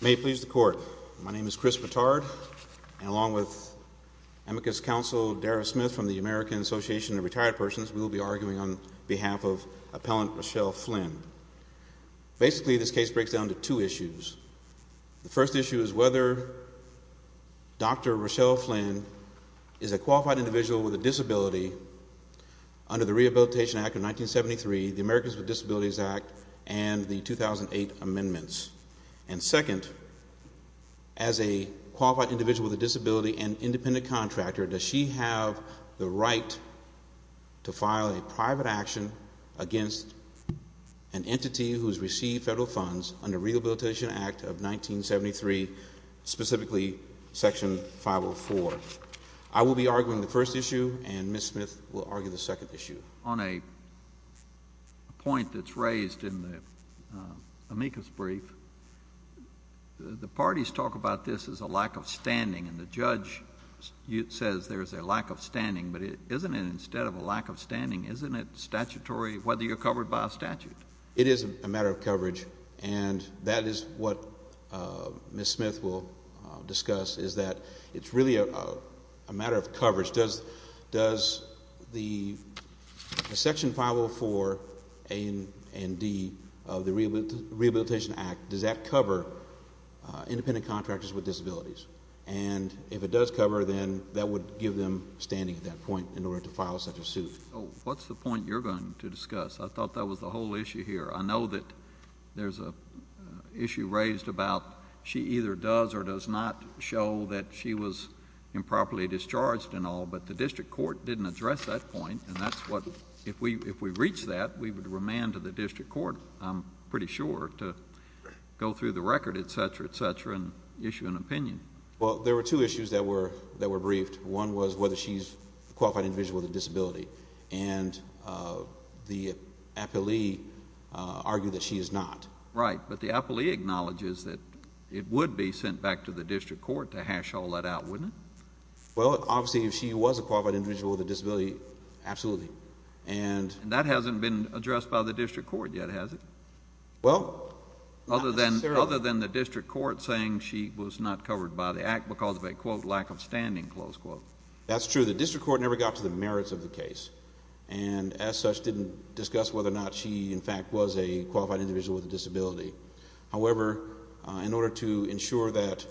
May it please the Court. My name is Chris Batard, and along with Amicus Counsel Dara Smith from the American Association of Retired Persons, we will be arguing on behalf of Appellant Rochelle Flynn. Basically, this case breaks down to two issues. The first issue is whether Dr. Rochelle Flynn is a qualified individual with a disability under the Rehabilitation Act of 1973, the Americans with Disabilities Act, and the 2008 amendments. And second, as a qualified individual with a disability and independent contractor, does she have the right to file a private action against an entity who has received federal funds under the Rehabilitation Act of 1973, specifically Section 504. I will be arguing the first issue, and Ms. Smith will argue the second issue. On a point that's raised in the Amicus brief, the parties talk about this as a lack of standing, and the judge says there's a lack of standing, but isn't it instead of a lack of standing, isn't it statutory whether you're covered by a statute? It is a matter of coverage, and that is what Ms. Smith will discuss, is that it's really a matter of coverage. Does the Section 504 A and D of the Rehabilitation Act, does that cover independent contractors with disabilities? And if it does cover, then that would give them standing at that point in order to file such a suit. What's the point you're going to discuss? I thought that was the whole issue here. I know that there's an issue raised about she either does or does not show that she was improperly discharged and all, but the district court didn't address that point, and that's what, if we reach that, we would remand to the district court, I'm pretty sure, to go through the record, et cetera, et cetera, and issue an opinion. Well, there were two issues that were briefed. One was whether she's a qualified individual with a disability, and the appellee argued that she is not. Right, but the appellee acknowledges that it would be sent back to the district court to hash all that out, wouldn't it? Well, obviously, if she was a qualified individual with a disability, absolutely. And that hasn't been addressed by the district court yet, has it? Well, not necessarily. Other than the district court saying she was not covered by the Act because of a, quote, lack of standing, close quote. That's true. The district court never got to the merits of the case and, as such, didn't discuss whether or not she, in fact, was a qualified individual with a disability. However, in order to ensure that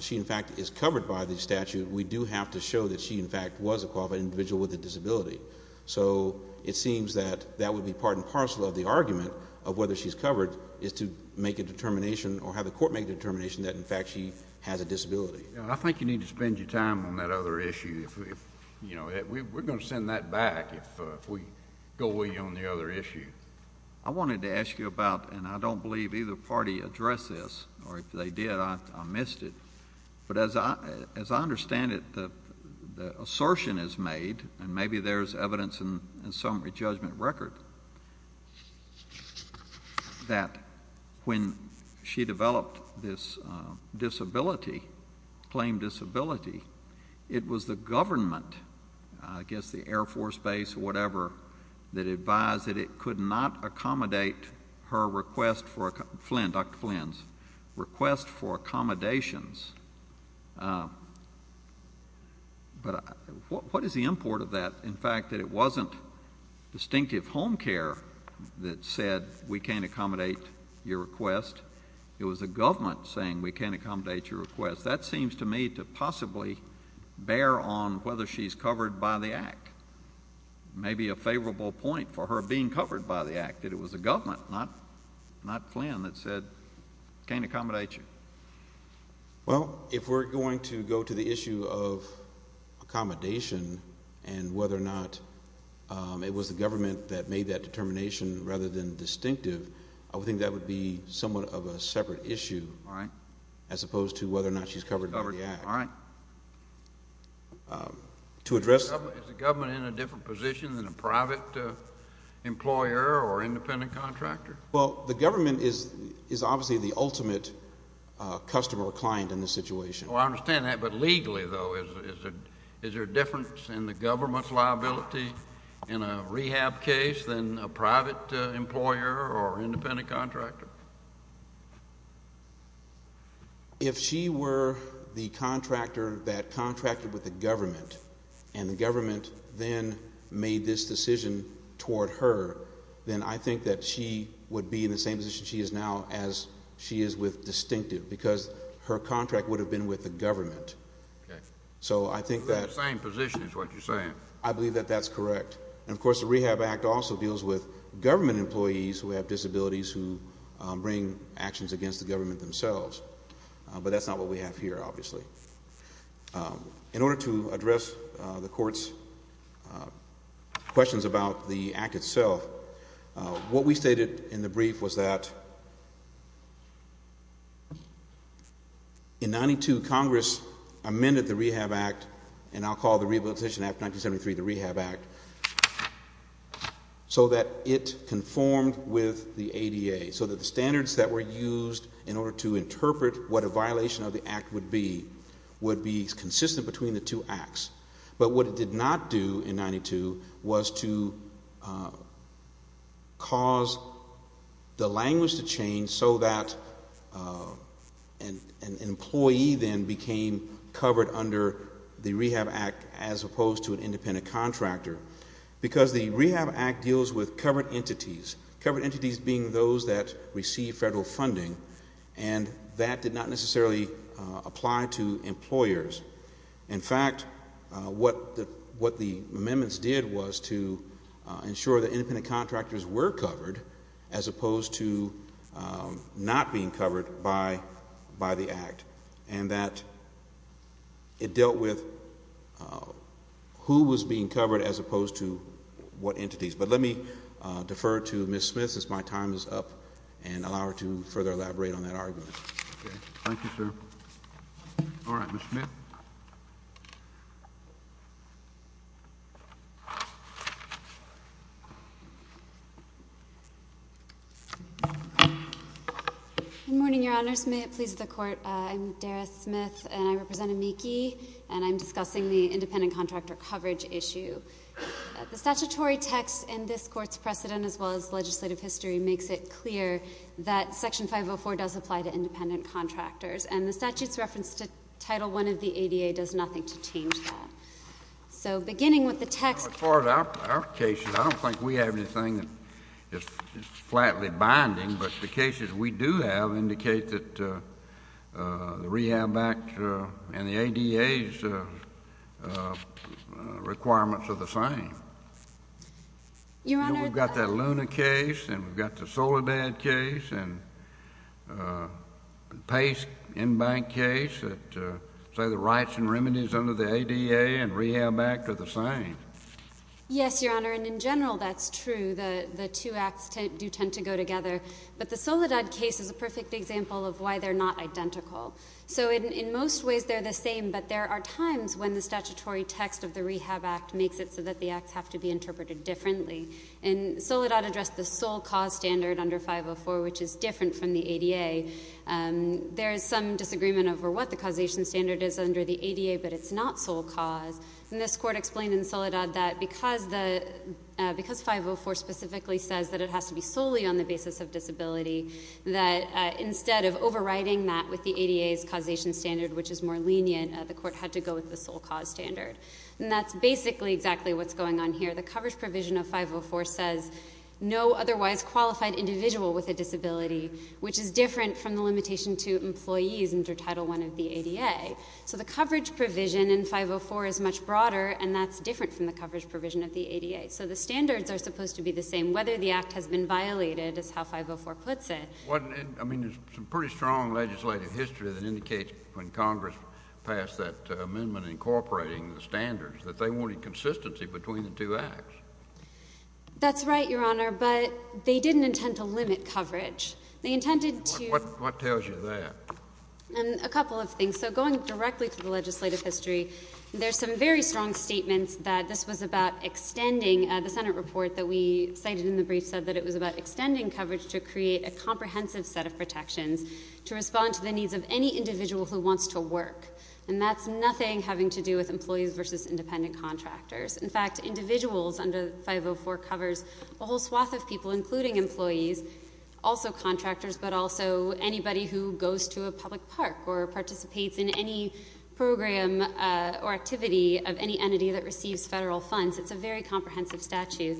she, in fact, is covered by the statute, we do have to show that she, in fact, was a qualified individual with a disability. So it seems that that would be part and parcel of the argument of whether she's covered is to make a determination or have the court make a determination that, in fact, she has a disability. I think you need to spend your time on that other issue. We're going to send that back if we go away on the other issue. I wanted to ask you about, and I don't believe either party addressed this, or if they did, I missed it. But as I understand it, the assertion is made, and maybe there's evidence in summary judgment record, that when she developed this disability, claimed disability, it was the government, I guess the Air Force Base or whatever, that advised that it could not accommodate her request for, Dr. Flynn's, request for accommodations. But what is the import of that? In fact, that it wasn't distinctive home care that said we can't accommodate your request. It was the government saying we can't accommodate your request. That seems to me to possibly bear on whether she's covered by the Act. Maybe a favorable point for her being covered by the Act, that it was the government, not Flynn, that said we can't accommodate you. Well, if we're going to go to the issue of accommodation and whether or not it was the government that made that determination rather than distinctive, I would think that would be somewhat of a separate issue. All right. As opposed to whether or not she's covered by the Act. All right. To address— Is the government in a different position than a private employer or independent contractor? Well, the government is obviously the ultimate customer or client in this situation. Oh, I understand that. But legally, though, is there a difference in the government's liability in a rehab case than a private employer or independent contractor? If she were the contractor that contracted with the government and the government then made this decision toward her, then I think that she would be in the same position she is now as she is with distinctive because her contract would have been with the government. Okay. So I think that— You're in the same position is what you're saying. I believe that that's correct. And, of course, the Rehab Act also deals with government employees who have disabilities who bring actions against the government themselves. But that's not what we have here, obviously. In order to address the Court's questions about the Act itself, what we stated in the brief was that in 92, Congress amended the Rehab Act, and I'll call the Rehabilitation Act 1973 the Rehab Act, so that it conformed with the ADA, so that the standards that were used in order to interpret what a violation of the Act would be would be consistent between the two Acts. But what it did not do in 92 was to cause the language to change so that an employee then became covered under the Rehab Act as opposed to an independent contractor. Because the Rehab Act deals with covered entities, covered entities being those that receive federal funding, and that did not necessarily apply to employers. In fact, what the amendments did was to ensure that independent contractors were covered as opposed to not being covered by the Act, and that it dealt with who was being covered as opposed to what entities. But let me defer to Ms. Smith since my time is up and allow her to further elaborate on that argument. Thank you, sir. All right, Ms. Smith. Good morning, Your Honors. May it please the Court, I'm Dara Smith, and I represent AMICI, and I'm discussing the independent contractor coverage issue. The statutory text in this Court's precedent, as well as legislative history, makes it clear that Section 504 does apply to independent contractors. And the statute's reference to Title I of the ADA does nothing to change that. As far as our cases, I don't think we have anything that is flatly binding, but the cases we do have indicate that the Rehab Act and the ADA's requirements are the same. We've got that Luna case, and we've got the Soledad case, and Pace in-bank case that say the rights and remedies under the ADA and Rehab Act are the same. Yes, Your Honor, and in general that's true. The two acts do tend to go together. But the Soledad case is a perfect example of why they're not identical. So in most ways they're the same, but there are times when the statutory text of the Rehab Act makes it so that the acts have to be interpreted differently. And Soledad addressed the sole cause standard under 504, which is different from the ADA. There is some disagreement over what the causation standard is under the ADA, but it's not sole cause. And this court explained in Soledad that because 504 specifically says that it has to be solely on the basis of disability, that instead of overriding that with the ADA's causation standard, which is more lenient, the court had to go with the sole cause standard. And that's basically exactly what's going on here. The coverage provision of 504 says no otherwise qualified individual with a disability, which is different from the limitation to employees under Title I of the ADA. So the coverage provision in 504 is much broader, and that's different from the coverage provision of the ADA. So the standards are supposed to be the same, whether the act has been violated is how 504 puts it. I mean, there's some pretty strong legislative history that indicates when Congress passed that amendment incorporating the standards, that they wanted consistency between the two acts. That's right, Your Honor, but they didn't intend to limit coverage. They intended to— What tells you that? A couple of things. So going directly to the legislative history, there's some very strong statements that this was about extending— the Senate report that we cited in the brief said that it was about extending coverage to create a comprehensive set of protections to respond to the needs of any individual who wants to work. And that's nothing having to do with employees versus independent contractors. In fact, individuals under 504 covers a whole swath of people, including employees, also contractors, but also anybody who goes to a public park or participates in any program or activity of any entity that receives federal funds. It's a very comprehensive statute.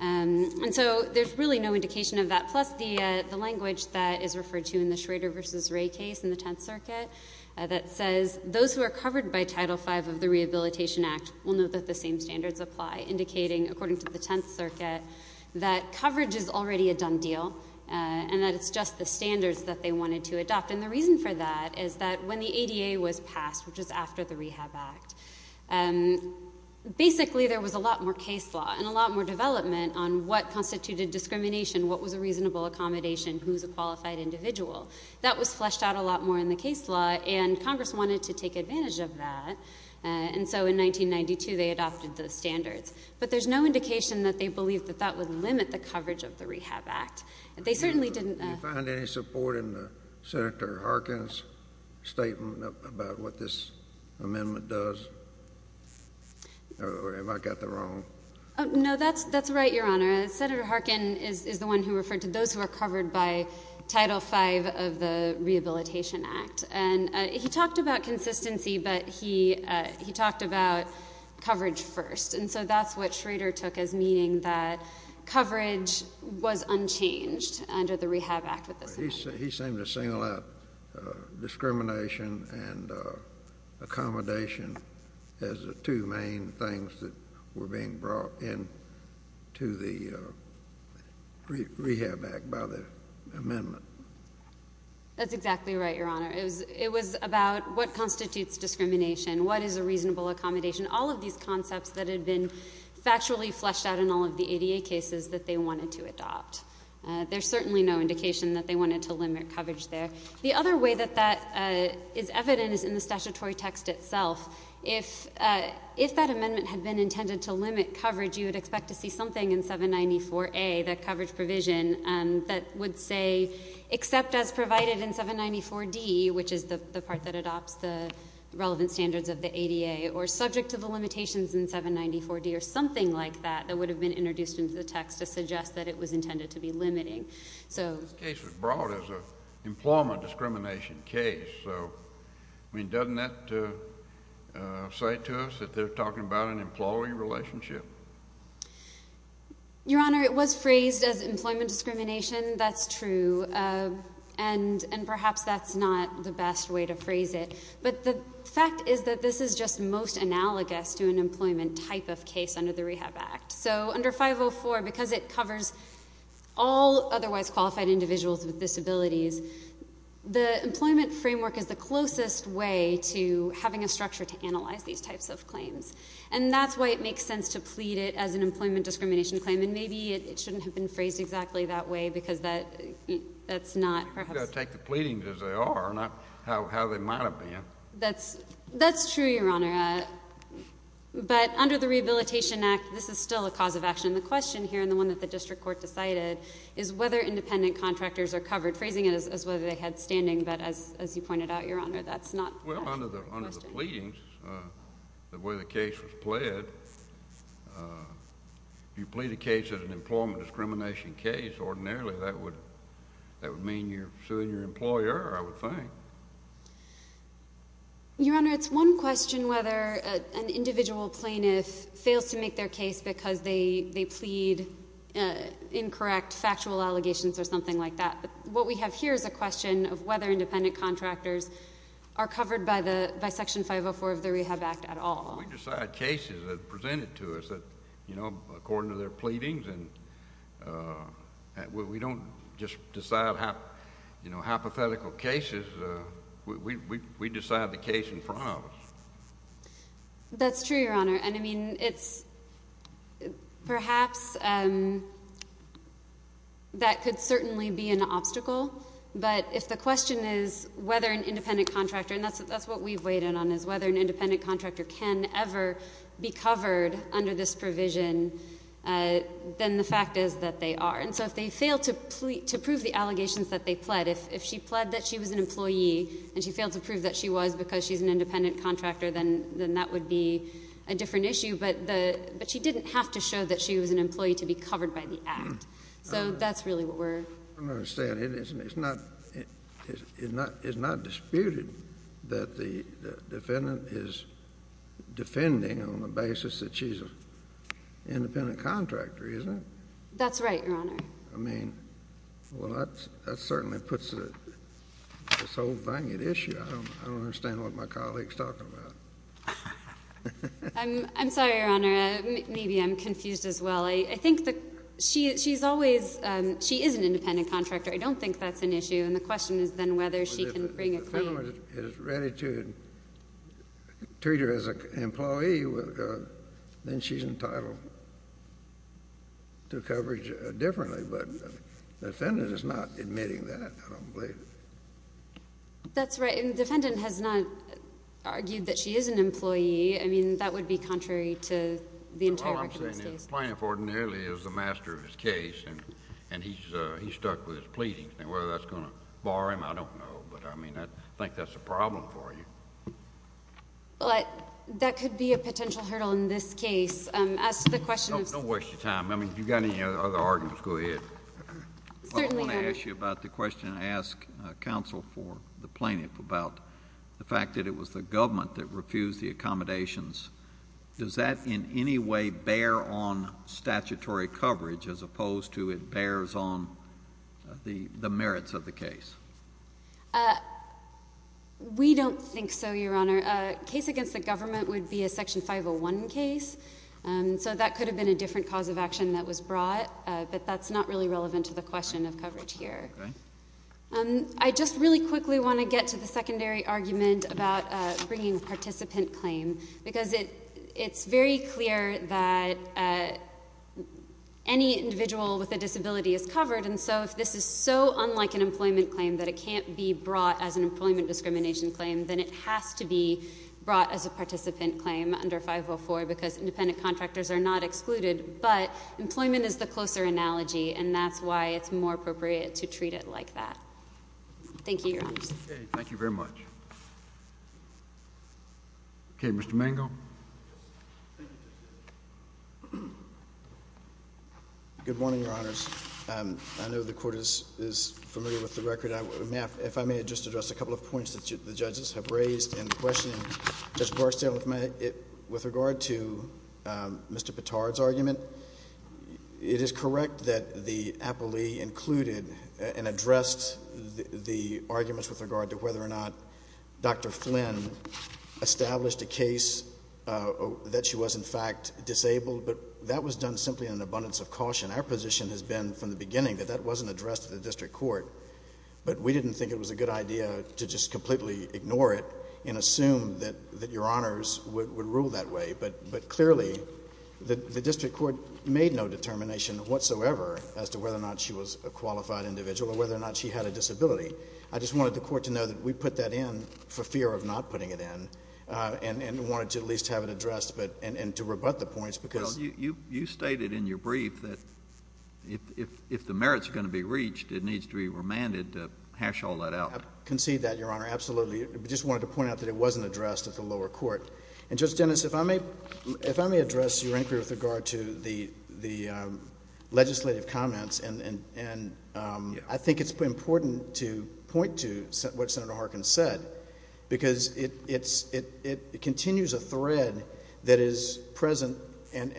And so there's really no indication of that. Plus the language that is referred to in the Schrader v. Ray case in the Tenth Circuit that says, those who are covered by Title V of the Rehabilitation Act will know that the same standards apply, indicating, according to the Tenth Circuit, that coverage is already a done deal and that it's just the standards that they wanted to adopt. And the reason for that is that when the ADA was passed, which was after the Rehab Act, basically there was a lot more case law and a lot more development on what constituted discrimination, what was a reasonable accommodation, who's a qualified individual. That was fleshed out a lot more in the case law, and Congress wanted to take advantage of that. And so in 1992, they adopted those standards. But there's no indication that they believed that that would limit the coverage of the Rehab Act. They certainly didn't. Do you find any support in Senator Harkin's statement about what this amendment does? Or have I got that wrong? No, that's right, Your Honor. Senator Harkin is the one who referred to those who are covered by Title V of the Rehabilitation Act. And he talked about consistency, but he talked about coverage first. And so that's what Schrader took as meaning that coverage was unchanged under the Rehab Act. He seemed to single out discrimination and accommodation as the two main things that were being brought into the Rehab Act by the amendment. That's exactly right, Your Honor. It was about what constitutes discrimination, what is a reasonable accommodation, all of these concepts that had been factually fleshed out in all of the ADA cases that they wanted to adopt. There's certainly no indication that they wanted to limit coverage there. The other way that that is evident is in the statutory text itself. If that amendment had been intended to limit coverage, you would expect to see something in 794A, that coverage provision that would say, except as provided in 794D, which is the part that adopts the relevant standards of the ADA, or subject to the limitations in 794D, there's something like that that would have been introduced into the text to suggest that it was intended to be limiting. This case was brought as an employment discrimination case. So doesn't that say to us that they're talking about an employee relationship? Your Honor, it was phrased as employment discrimination. That's true. And perhaps that's not the best way to phrase it. But the fact is that this is just most analogous to an employment type of case under the Rehab Act. So under 504, because it covers all otherwise qualified individuals with disabilities, the employment framework is the closest way to having a structure to analyze these types of claims. And that's why it makes sense to plead it as an employment discrimination claim. And maybe it shouldn't have been phrased exactly that way, because that's not perhaps... You've got to take the pleadings as they are, not how they might have been. That's true, Your Honor. But under the Rehabilitation Act, this is still a cause of action. The question here, and the one that the district court decided, is whether independent contractors are covered, phrasing it as whether they had standing. But as you pointed out, Your Honor, that's not the question. Well, under the pleadings, the way the case was pled, if you plead a case as an employment discrimination case ordinarily, that would mean you're suing your employer, I would think. Your Honor, it's one question whether an individual plaintiff fails to make their case because they plead incorrect factual allegations or something like that. But what we have here is a question of whether independent contractors are covered by Section 504 of the Rehab Act at all. We decide cases that are presented to us according to their pleadings. We don't just decide hypothetical cases. We decide the case in front of us. That's true, Your Honor. Perhaps that could certainly be an obstacle. But if the question is whether an independent contractor, and that's what we've weighed in on, is whether an independent contractor can ever be covered under this provision, then the fact is that they are. And so if they fail to prove the allegations that they pled, if she pled that she was an employee and she failed to prove that she was because she's an independent contractor, then that would be a different issue. But she didn't have to show that she was an employee to be covered by the Act. So that's really what we're — Well, again, it's not disputed that the defendant is defending on the basis that she's an independent contractor, is it? That's right, Your Honor. I mean, well, that certainly puts this whole thing at issue. I don't understand what my colleague's talking about. I'm sorry, Your Honor. Maybe I'm confused as well. I think the — she's always — she is an independent contractor. I don't think that's an issue. And the question is then whether she can bring a claim. If the defendant is ready to treat her as an employee, then she's entitled to coverage differently. But the defendant is not admitting that, I don't believe. That's right. And the defendant has not argued that she is an employee. Plaintiff ordinarily is the master of his case, and he's stuck with his pleadings. Now, whether that's going to bar him, I don't know. But, I mean, I think that's a problem for you. Well, that could be a potential hurdle in this case. As to the question of — Don't waste your time. I mean, if you've got any other arguments, go ahead. Certainly, Your Honor. I want to ask you about the question I asked counsel for the plaintiff about the fact that it was the government that refused the accommodations. Does that in any way bear on statutory coverage as opposed to it bears on the merits of the case? We don't think so, Your Honor. A case against the government would be a Section 501 case. So that could have been a different cause of action that was brought. But that's not really relevant to the question of coverage here. Okay. I just really quickly want to get to the secondary argument about bringing a participant claim, because it's very clear that any individual with a disability is covered, and so if this is so unlike an employment claim that it can't be brought as an employment discrimination claim, then it has to be brought as a participant claim under 504 because independent contractors are not excluded. But employment is the closer analogy, and that's why it's more appropriate to treat it like that. Thank you, Your Honor. Okay. Thank you very much. Okay. Mr. Mango. Good morning, Your Honors. I know the Court is familiar with the record. If I may just address a couple of points that the judges have raised in questioning Judge Barstow with regard to Mr. Petard's argument. It is correct that the appellee included and addressed the arguments with regard to whether or not Dr. Flynn established a case that she was, in fact, disabled, but that was done simply in abundance of caution. Our position has been from the beginning that that wasn't addressed to the district court, but we didn't think it was a good idea to just completely ignore it and assume that Your Honors would rule that way. But clearly, the district court made no determination whatsoever as to whether or not she was a qualified individual or whether or not she had a disability. I just wanted the Court to know that we put that in for fear of not putting it in and wanted to at least have it addressed and to rebut the points because — if the merits are going to be reached, it needs to be remanded to hash all that out. I concede that, Your Honor, absolutely. I just wanted to point out that it wasn't addressed at the lower court. And, Judge Dennis, if I may address your inquiry with regard to the legislative comments, and I think it's important to point to what Senator Harkin said because it continues a thread that is present and,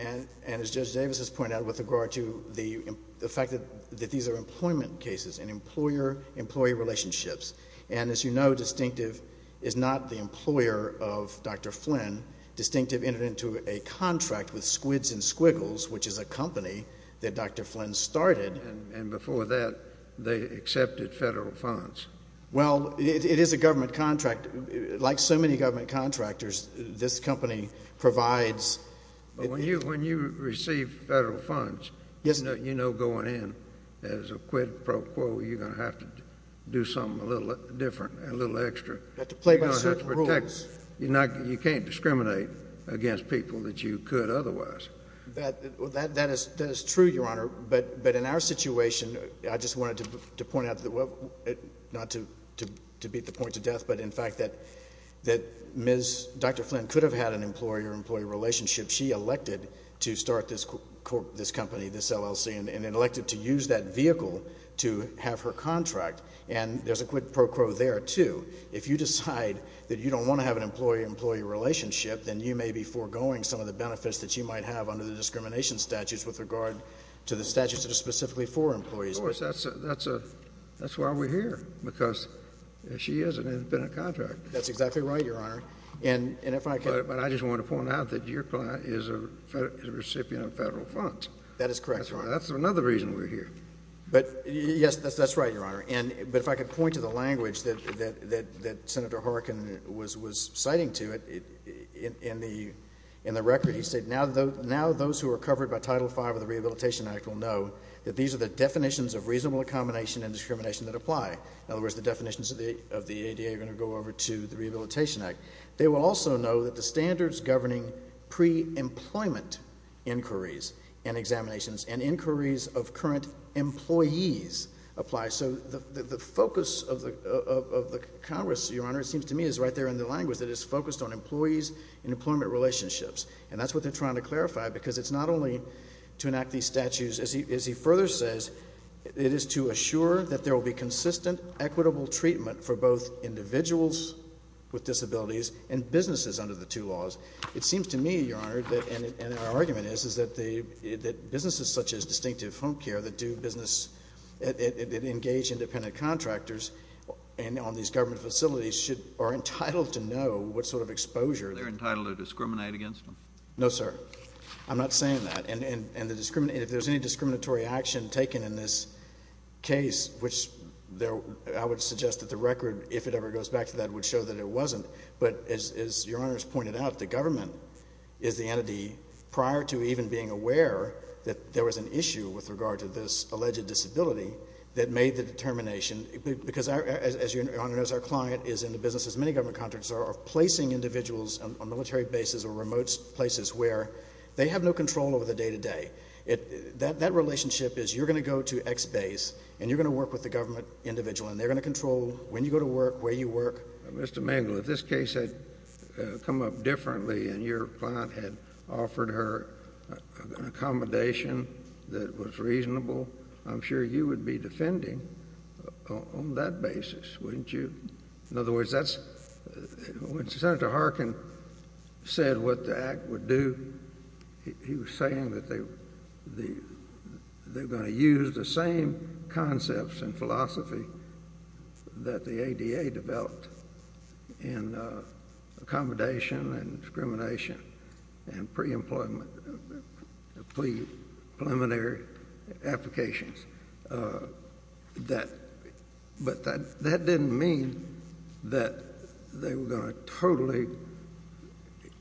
as Judge Davis has pointed out, with regard to the fact that these are employment cases and employer-employee relationships. And as you know, Distinctive is not the employer of Dr. Flynn. Distinctive entered into a contract with Squids and Squiggles, which is a company that Dr. Flynn started. And before that, they accepted federal funds. Well, it is a government contract. Like so many government contractors, this company provides — But when you receive federal funds, you know going in as a quid pro quo, you're going to have to do something a little different, a little extra. You're going to have to protect — You have to play by certain rules. You can't discriminate against people that you could otherwise. That is true, Your Honor. But in our situation, I just wanted to point out that — that Dr. Flynn could have had an employer-employee relationship. She elected to start this company, this LLC, and elected to use that vehicle to have her contract. And there's a quid pro quo there, too. If you decide that you don't want to have an employer-employee relationship, then you may be foregoing some of the benefits that you might have under the discrimination statutes with regard to the statutes that are specifically for employees. Of course, that's why we're here, because she is and has been a contractor. That's exactly right, Your Honor. But I just want to point out that your client is a recipient of federal funds. That is correct, Your Honor. That's another reason we're here. Yes, that's right, Your Honor. But if I could point to the language that Senator Harkin was citing to it in the record, he said, now those who are covered by Title V of the Rehabilitation Act will know that these are the definitions of reasonable accommodation and discrimination that apply. In other words, the definitions of the ADA are going to go over to the Rehabilitation Act. They will also know that the standards governing pre-employment inquiries and examinations and inquiries of current employees apply. So the focus of the Congress, Your Honor, it seems to me, is right there in the language that is focused on employees and employment relationships. And that's what they're trying to clarify, because it's not only to enact these statutes. As he further says, it is to assure that there will be consistent, equitable treatment for both individuals with disabilities and businesses under the two laws. It seems to me, Your Honor, and our argument is, is that businesses such as Distinctive Home Care that engage independent contractors on these government facilities are entitled to know what sort of exposure they're entitled to discriminate against them. No, sir. I'm not saying that. And if there's any discriminatory action taken in this case, which I would suggest that the record, if it ever goes back to that, would show that it wasn't. But as Your Honor has pointed out, the government is the entity, prior to even being aware that there was an issue with regard to this alleged disability, that made the determination, because as Your Honor knows, our client is in the business, as many government contractors are, of placing individuals on military bases or remote places where they have no control over the day-to-day. That relationship is you're going to go to X base, and you're going to work with the government individual, and they're going to control when you go to work, where you work. Mr. Mengel, if this case had come up differently and your client had offered her an accommodation that was reasonable, I'm sure you would be defending on that basis, wouldn't you? In other words, when Senator Harkin said what the Act would do, he was saying that they were going to use the same concepts and philosophy that the ADA developed in accommodation and discrimination and pre-employment, pre-preliminary applications. But that didn't mean that they were going to totally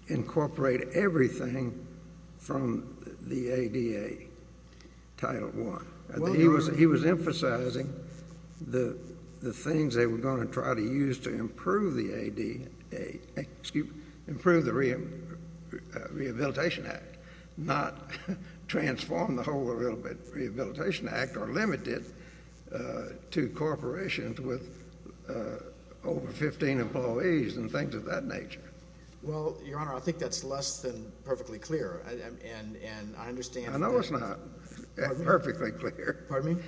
incorporate everything from the ADA, Title I. He was emphasizing the things they were going to try to use to improve the ADA, improve the Rehabilitation Act, not transform the whole Rehabilitation Act or limit it to corporations with over 15 employees and things of that nature. Well, Your Honor, I think that's less than perfectly clear. I know it's not perfectly clear. Pardon me?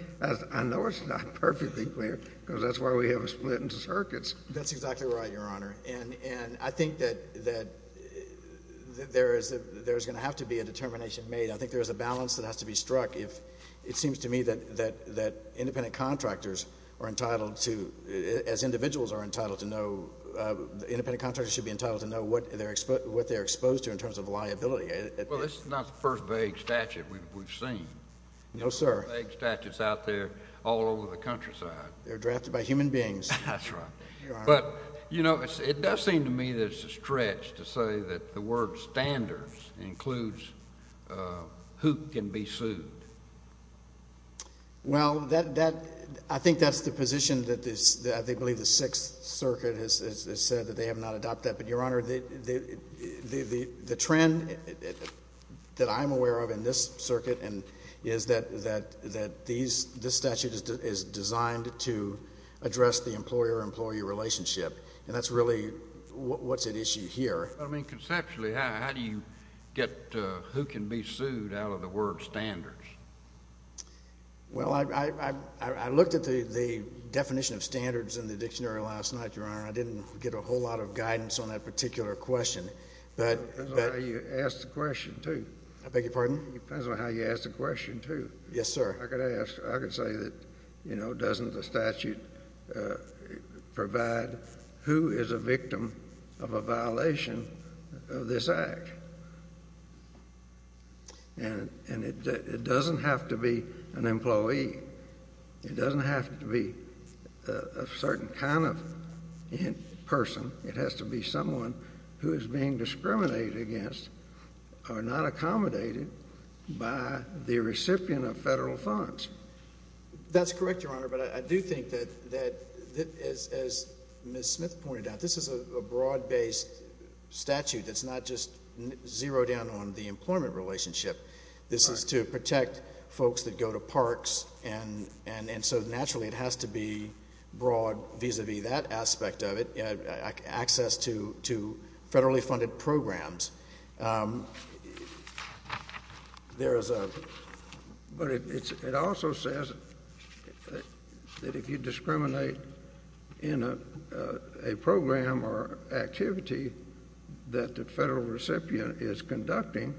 I know it's not perfectly clear because that's why we have a split in the circuits. That's exactly right, Your Honor. And I think that there's going to have to be a determination made. I think there's a balance that has to be struck. It seems to me that independent contractors are entitled to, as individuals are entitled to know, independent contractors should be entitled to know what they're exposed to in terms of liability. Well, this is not the first vague statute we've seen. No, sir. Vague statutes out there all over the countryside. They're drafted by human beings. That's right. But, you know, it does seem to me there's a stretch to say that the word standards includes who can be sued. Well, I think that's the position that I believe the Sixth Circuit has said that they have not adopted. But, Your Honor, the trend that I'm aware of in this circuit is that this statute is designed to address the employer-employee relationship. And that's really what's at issue here. I mean, conceptually, how do you get who can be sued out of the word standards? Well, I looked at the definition of standards in the dictionary last night, Your Honor. I didn't get a whole lot of guidance on that particular question. It depends on how you ask the question, too. I beg your pardon? It depends on how you ask the question, too. Yes, sir. I could say that, you know, doesn't the statute provide who is a victim of a violation of this act? And it doesn't have to be an employee. It doesn't have to be a certain kind of person. It has to be someone who is being discriminated against or not accommodated by the recipient of federal funds. That's correct, Your Honor. But I do think that, as Ms. Smith pointed out, this is a broad-based statute that's not just zeroed in on the employment relationship. This is to protect folks that go to parks. And so, naturally, it has to be broad vis-a-vis that aspect of it, access to federally funded programs. But it also says that if you discriminate in a program or activity that the federal recipient is conducting,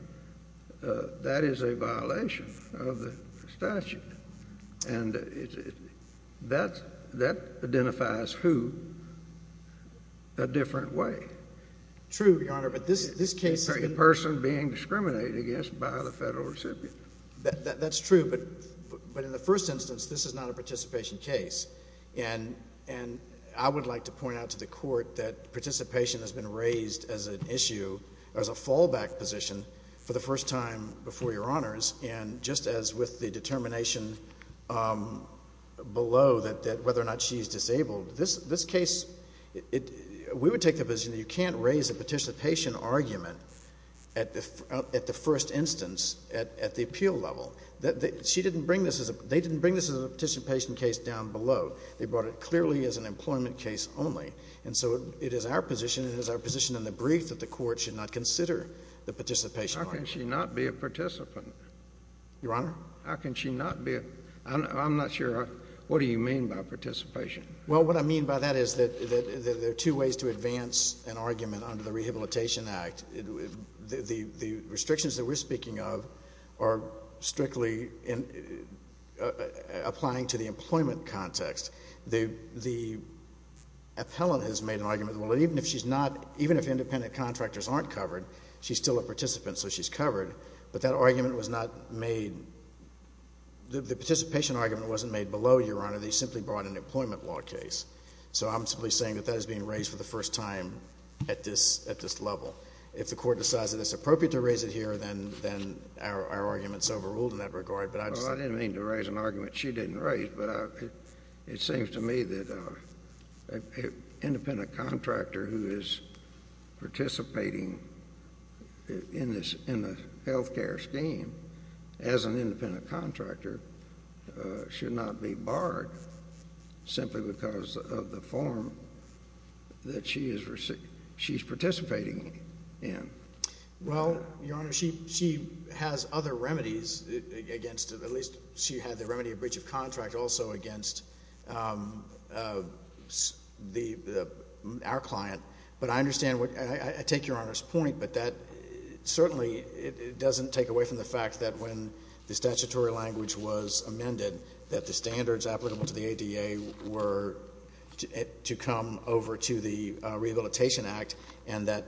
that is a violation of the statute. And that identifies who a different way. True, Your Honor. A person being discriminated against by the federal recipient. That's true. But in the first instance, this is not a participation case. And I would like to point out to the Court that participation has been raised as an issue, as a fallback position, for the first time before Your Honors. And just as with the determination below that whether or not she is disabled, this case, we would take the position that you can't raise a participation argument at the first instance at the appeal level. She didn't bring this as a—they didn't bring this as a participation case down below. They brought it clearly as an employment case only. And so, it is our position and it is our position in the brief that the Court should not consider the participation argument. How can she not be a participant? Your Honor? How can she not be a—I'm not sure—what do you mean by participation? Well, what I mean by that is that there are two ways to advance an argument under the Rehabilitation Act. The restrictions that we're speaking of are strictly applying to the employment context. The appellant has made an argument, well, even if she's not—even if independent contractors aren't covered, she's still a participant, so she's covered. But that argument was not made—the participation argument wasn't made below, Your Honor. They simply brought an employment law case. So I'm simply saying that that is being raised for the first time at this level. If the Court decides that it's appropriate to raise it here, then our argument is overruled in that regard. Well, I didn't mean to raise an argument she didn't raise, but it seems to me that an independent contractor who is participating in the health care scheme as an independent contractor should not be barred simply because of the form that she is participating in. Well, Your Honor, she has other remedies against—at least she had the remedy of breach of contract also against our client. But I understand—I take Your Honor's point, but that certainly doesn't take away from the fact that when the statutory language was amended, that the standards applicable to the ADA were to come over to the Rehabilitation Act and that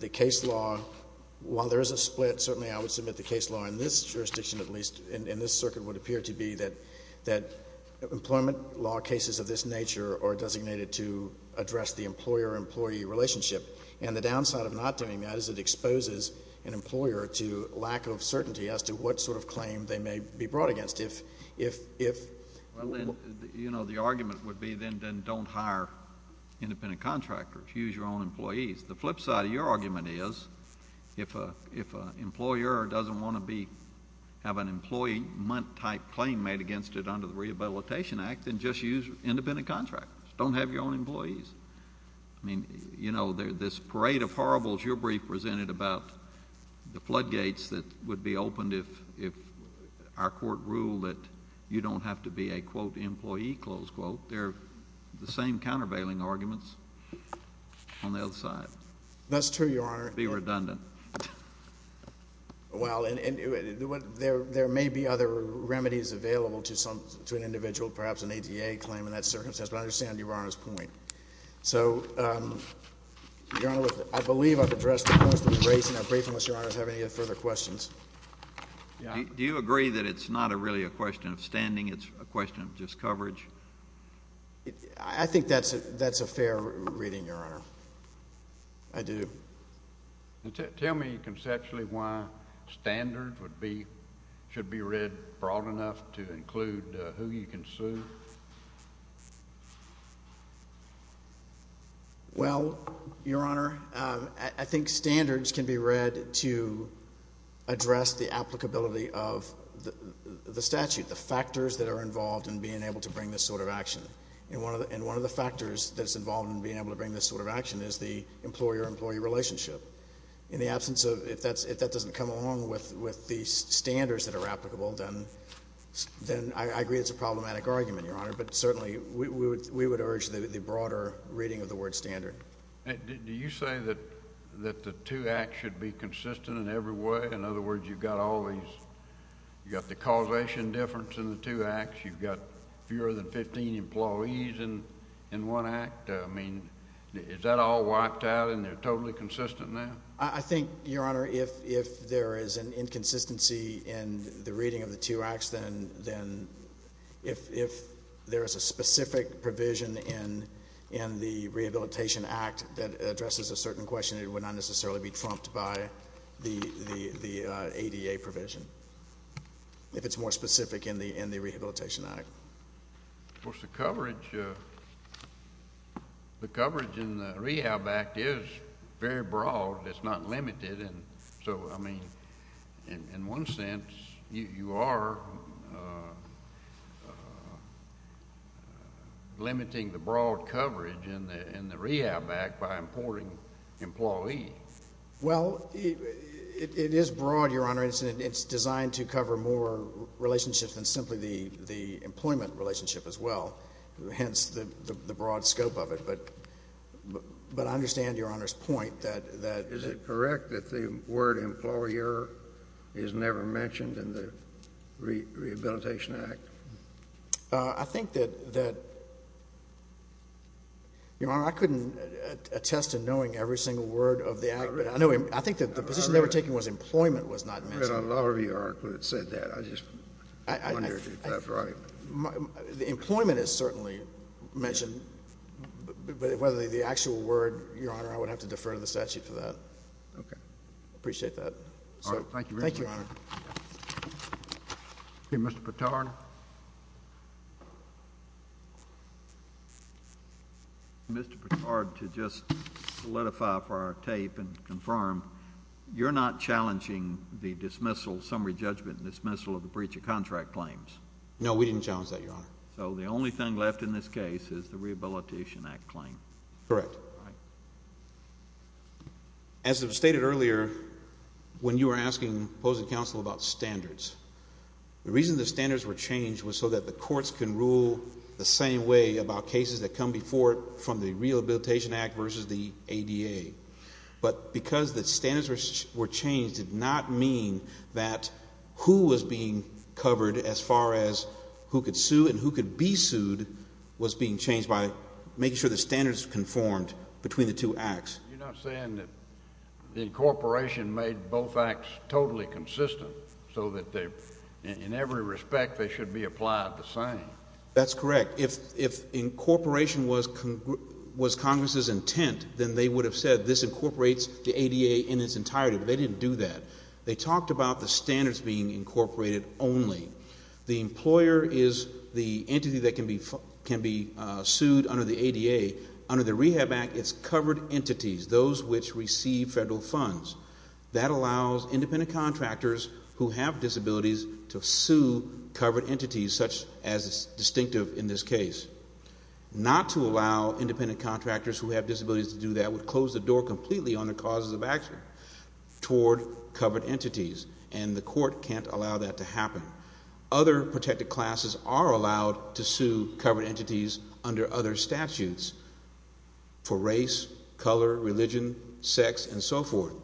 the case law, while there is a split, certainly I would submit the case law in this jurisdiction at least, in this circuit, would appear to be that employment law cases of this nature are designated to address the employer-employee relationship. And the downside of not doing that is it exposes an employer to lack of certainty as to what sort of claim they may be brought against. Well, then, you know, the argument would be then don't hire independent contractors. Use your own employees. The flip side of your argument is if an employer doesn't want to have an employee-type claim made against it under the Rehabilitation Act, then just use independent contractors. Don't have your own employees. I mean, you know, this parade of horribles your brief presented about the floodgates that would be opened if our Court ruled that you don't have to be a, quote, employee, close quote, they're the same countervailing arguments on the other side. That's true, Your Honor. Be redundant. Well, and there may be other remedies available to an individual, perhaps an ADA claim in that circumstance, but I understand Your Honor's point. So, Your Honor, I believe I've addressed most of the case in our brief unless Your Honor has any further questions. Do you agree that it's not really a question of standing? It's a question of just coverage? I think that's a fair reading, Your Honor. I do. Tell me conceptually why standards should be read broad enough to include who you can sue. Well, Your Honor, I think standards can be read to address the applicability of the statute, the factors that are involved in being able to bring this sort of action. And one of the factors that's involved in being able to bring this sort of action is the employer-employee relationship. In the absence of, if that doesn't come along with the standards that are applicable, then I agree it's a problematic argument, Your Honor. But certainly we would urge the broader reading of the word standard. Do you say that the two acts should be consistent in every way? In other words, you've got all these, you've got the causation difference in the two acts. You've got fewer than 15 employees in one act. I mean, is that all wiped out and they're totally consistent now? I think, Your Honor, if there is an inconsistency in the reading of the two acts, then if there is a specific provision in the Rehabilitation Act that addresses a certain question, it would not necessarily be trumped by the ADA provision if it's more specific in the Rehabilitation Act. Of course, the coverage in the Rehab Act is very broad. It's not limited. And so, I mean, in one sense, you are limiting the broad coverage in the Rehab Act by importing employees. Well, it is broad, Your Honor. It's designed to cover more relationships than simply the employment relationship as well, hence the broad scope of it. But I understand Your Honor's point that— Is it correct that the word employer is never mentioned in the Rehabilitation Act? I think that, Your Honor, I couldn't attest to knowing every single word of the act. I think that the position they were taking was employment was not mentioned. I read a lot of your argument that said that. I just wondered if that's right. The employment is certainly mentioned, but whether the actual word, Your Honor, I would have to defer to the statute for that. Okay. I appreciate that. All right. Thank you very much. Thank you, Your Honor. Okay. Mr. Patard? Mr. Patard, to just solidify for our tape and confirm, you're not challenging the dismissal, summary judgment and dismissal of the breach of contract claims? No, we didn't challenge that, Your Honor. So the only thing left in this case is the Rehabilitation Act claim? Correct. All right. As was stated earlier, when you were asking opposing counsel about standards, the reason the standards were changed was so that the courts can rule the same way about cases that come before it from the Rehabilitation Act versus the ADA. But because the standards were changed did not mean that who was being covered as far as who could sue and who could be sued was being changed by making sure the standards conformed between the two acts. You're not saying that the incorporation made both acts totally consistent so that in every respect they should be applied the same? That's correct. If incorporation was Congress's intent, then they would have said this incorporates the ADA in its entirety, but they didn't do that. They talked about the standards being incorporated only. The employer is the entity that can be sued under the ADA. Under the Rehab Act, it's covered entities, those which receive federal funds. That allows independent contractors who have disabilities to sue covered entities, such as is distinctive in this case. Not to allow independent contractors who have disabilities to do that would close the door completely on the causes of action toward covered entities, and the court can't allow that to happen. Other protected classes are allowed to sue covered entities under other statutes for race, color, religion, sex, and so forth.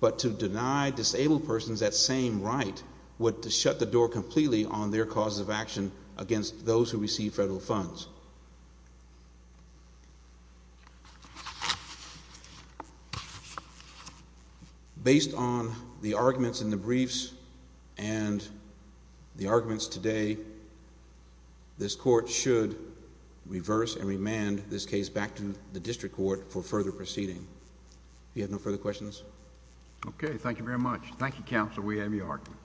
But to deny disabled persons that same right would shut the door completely on their causes of action against those who receive federal funds. Based on the arguments in the briefs and the arguments today, this court should reverse and remand this case back to the district court for further proceeding. If you have no further questions. Okay, thank you very much. Thank you, counsel. We have your argument.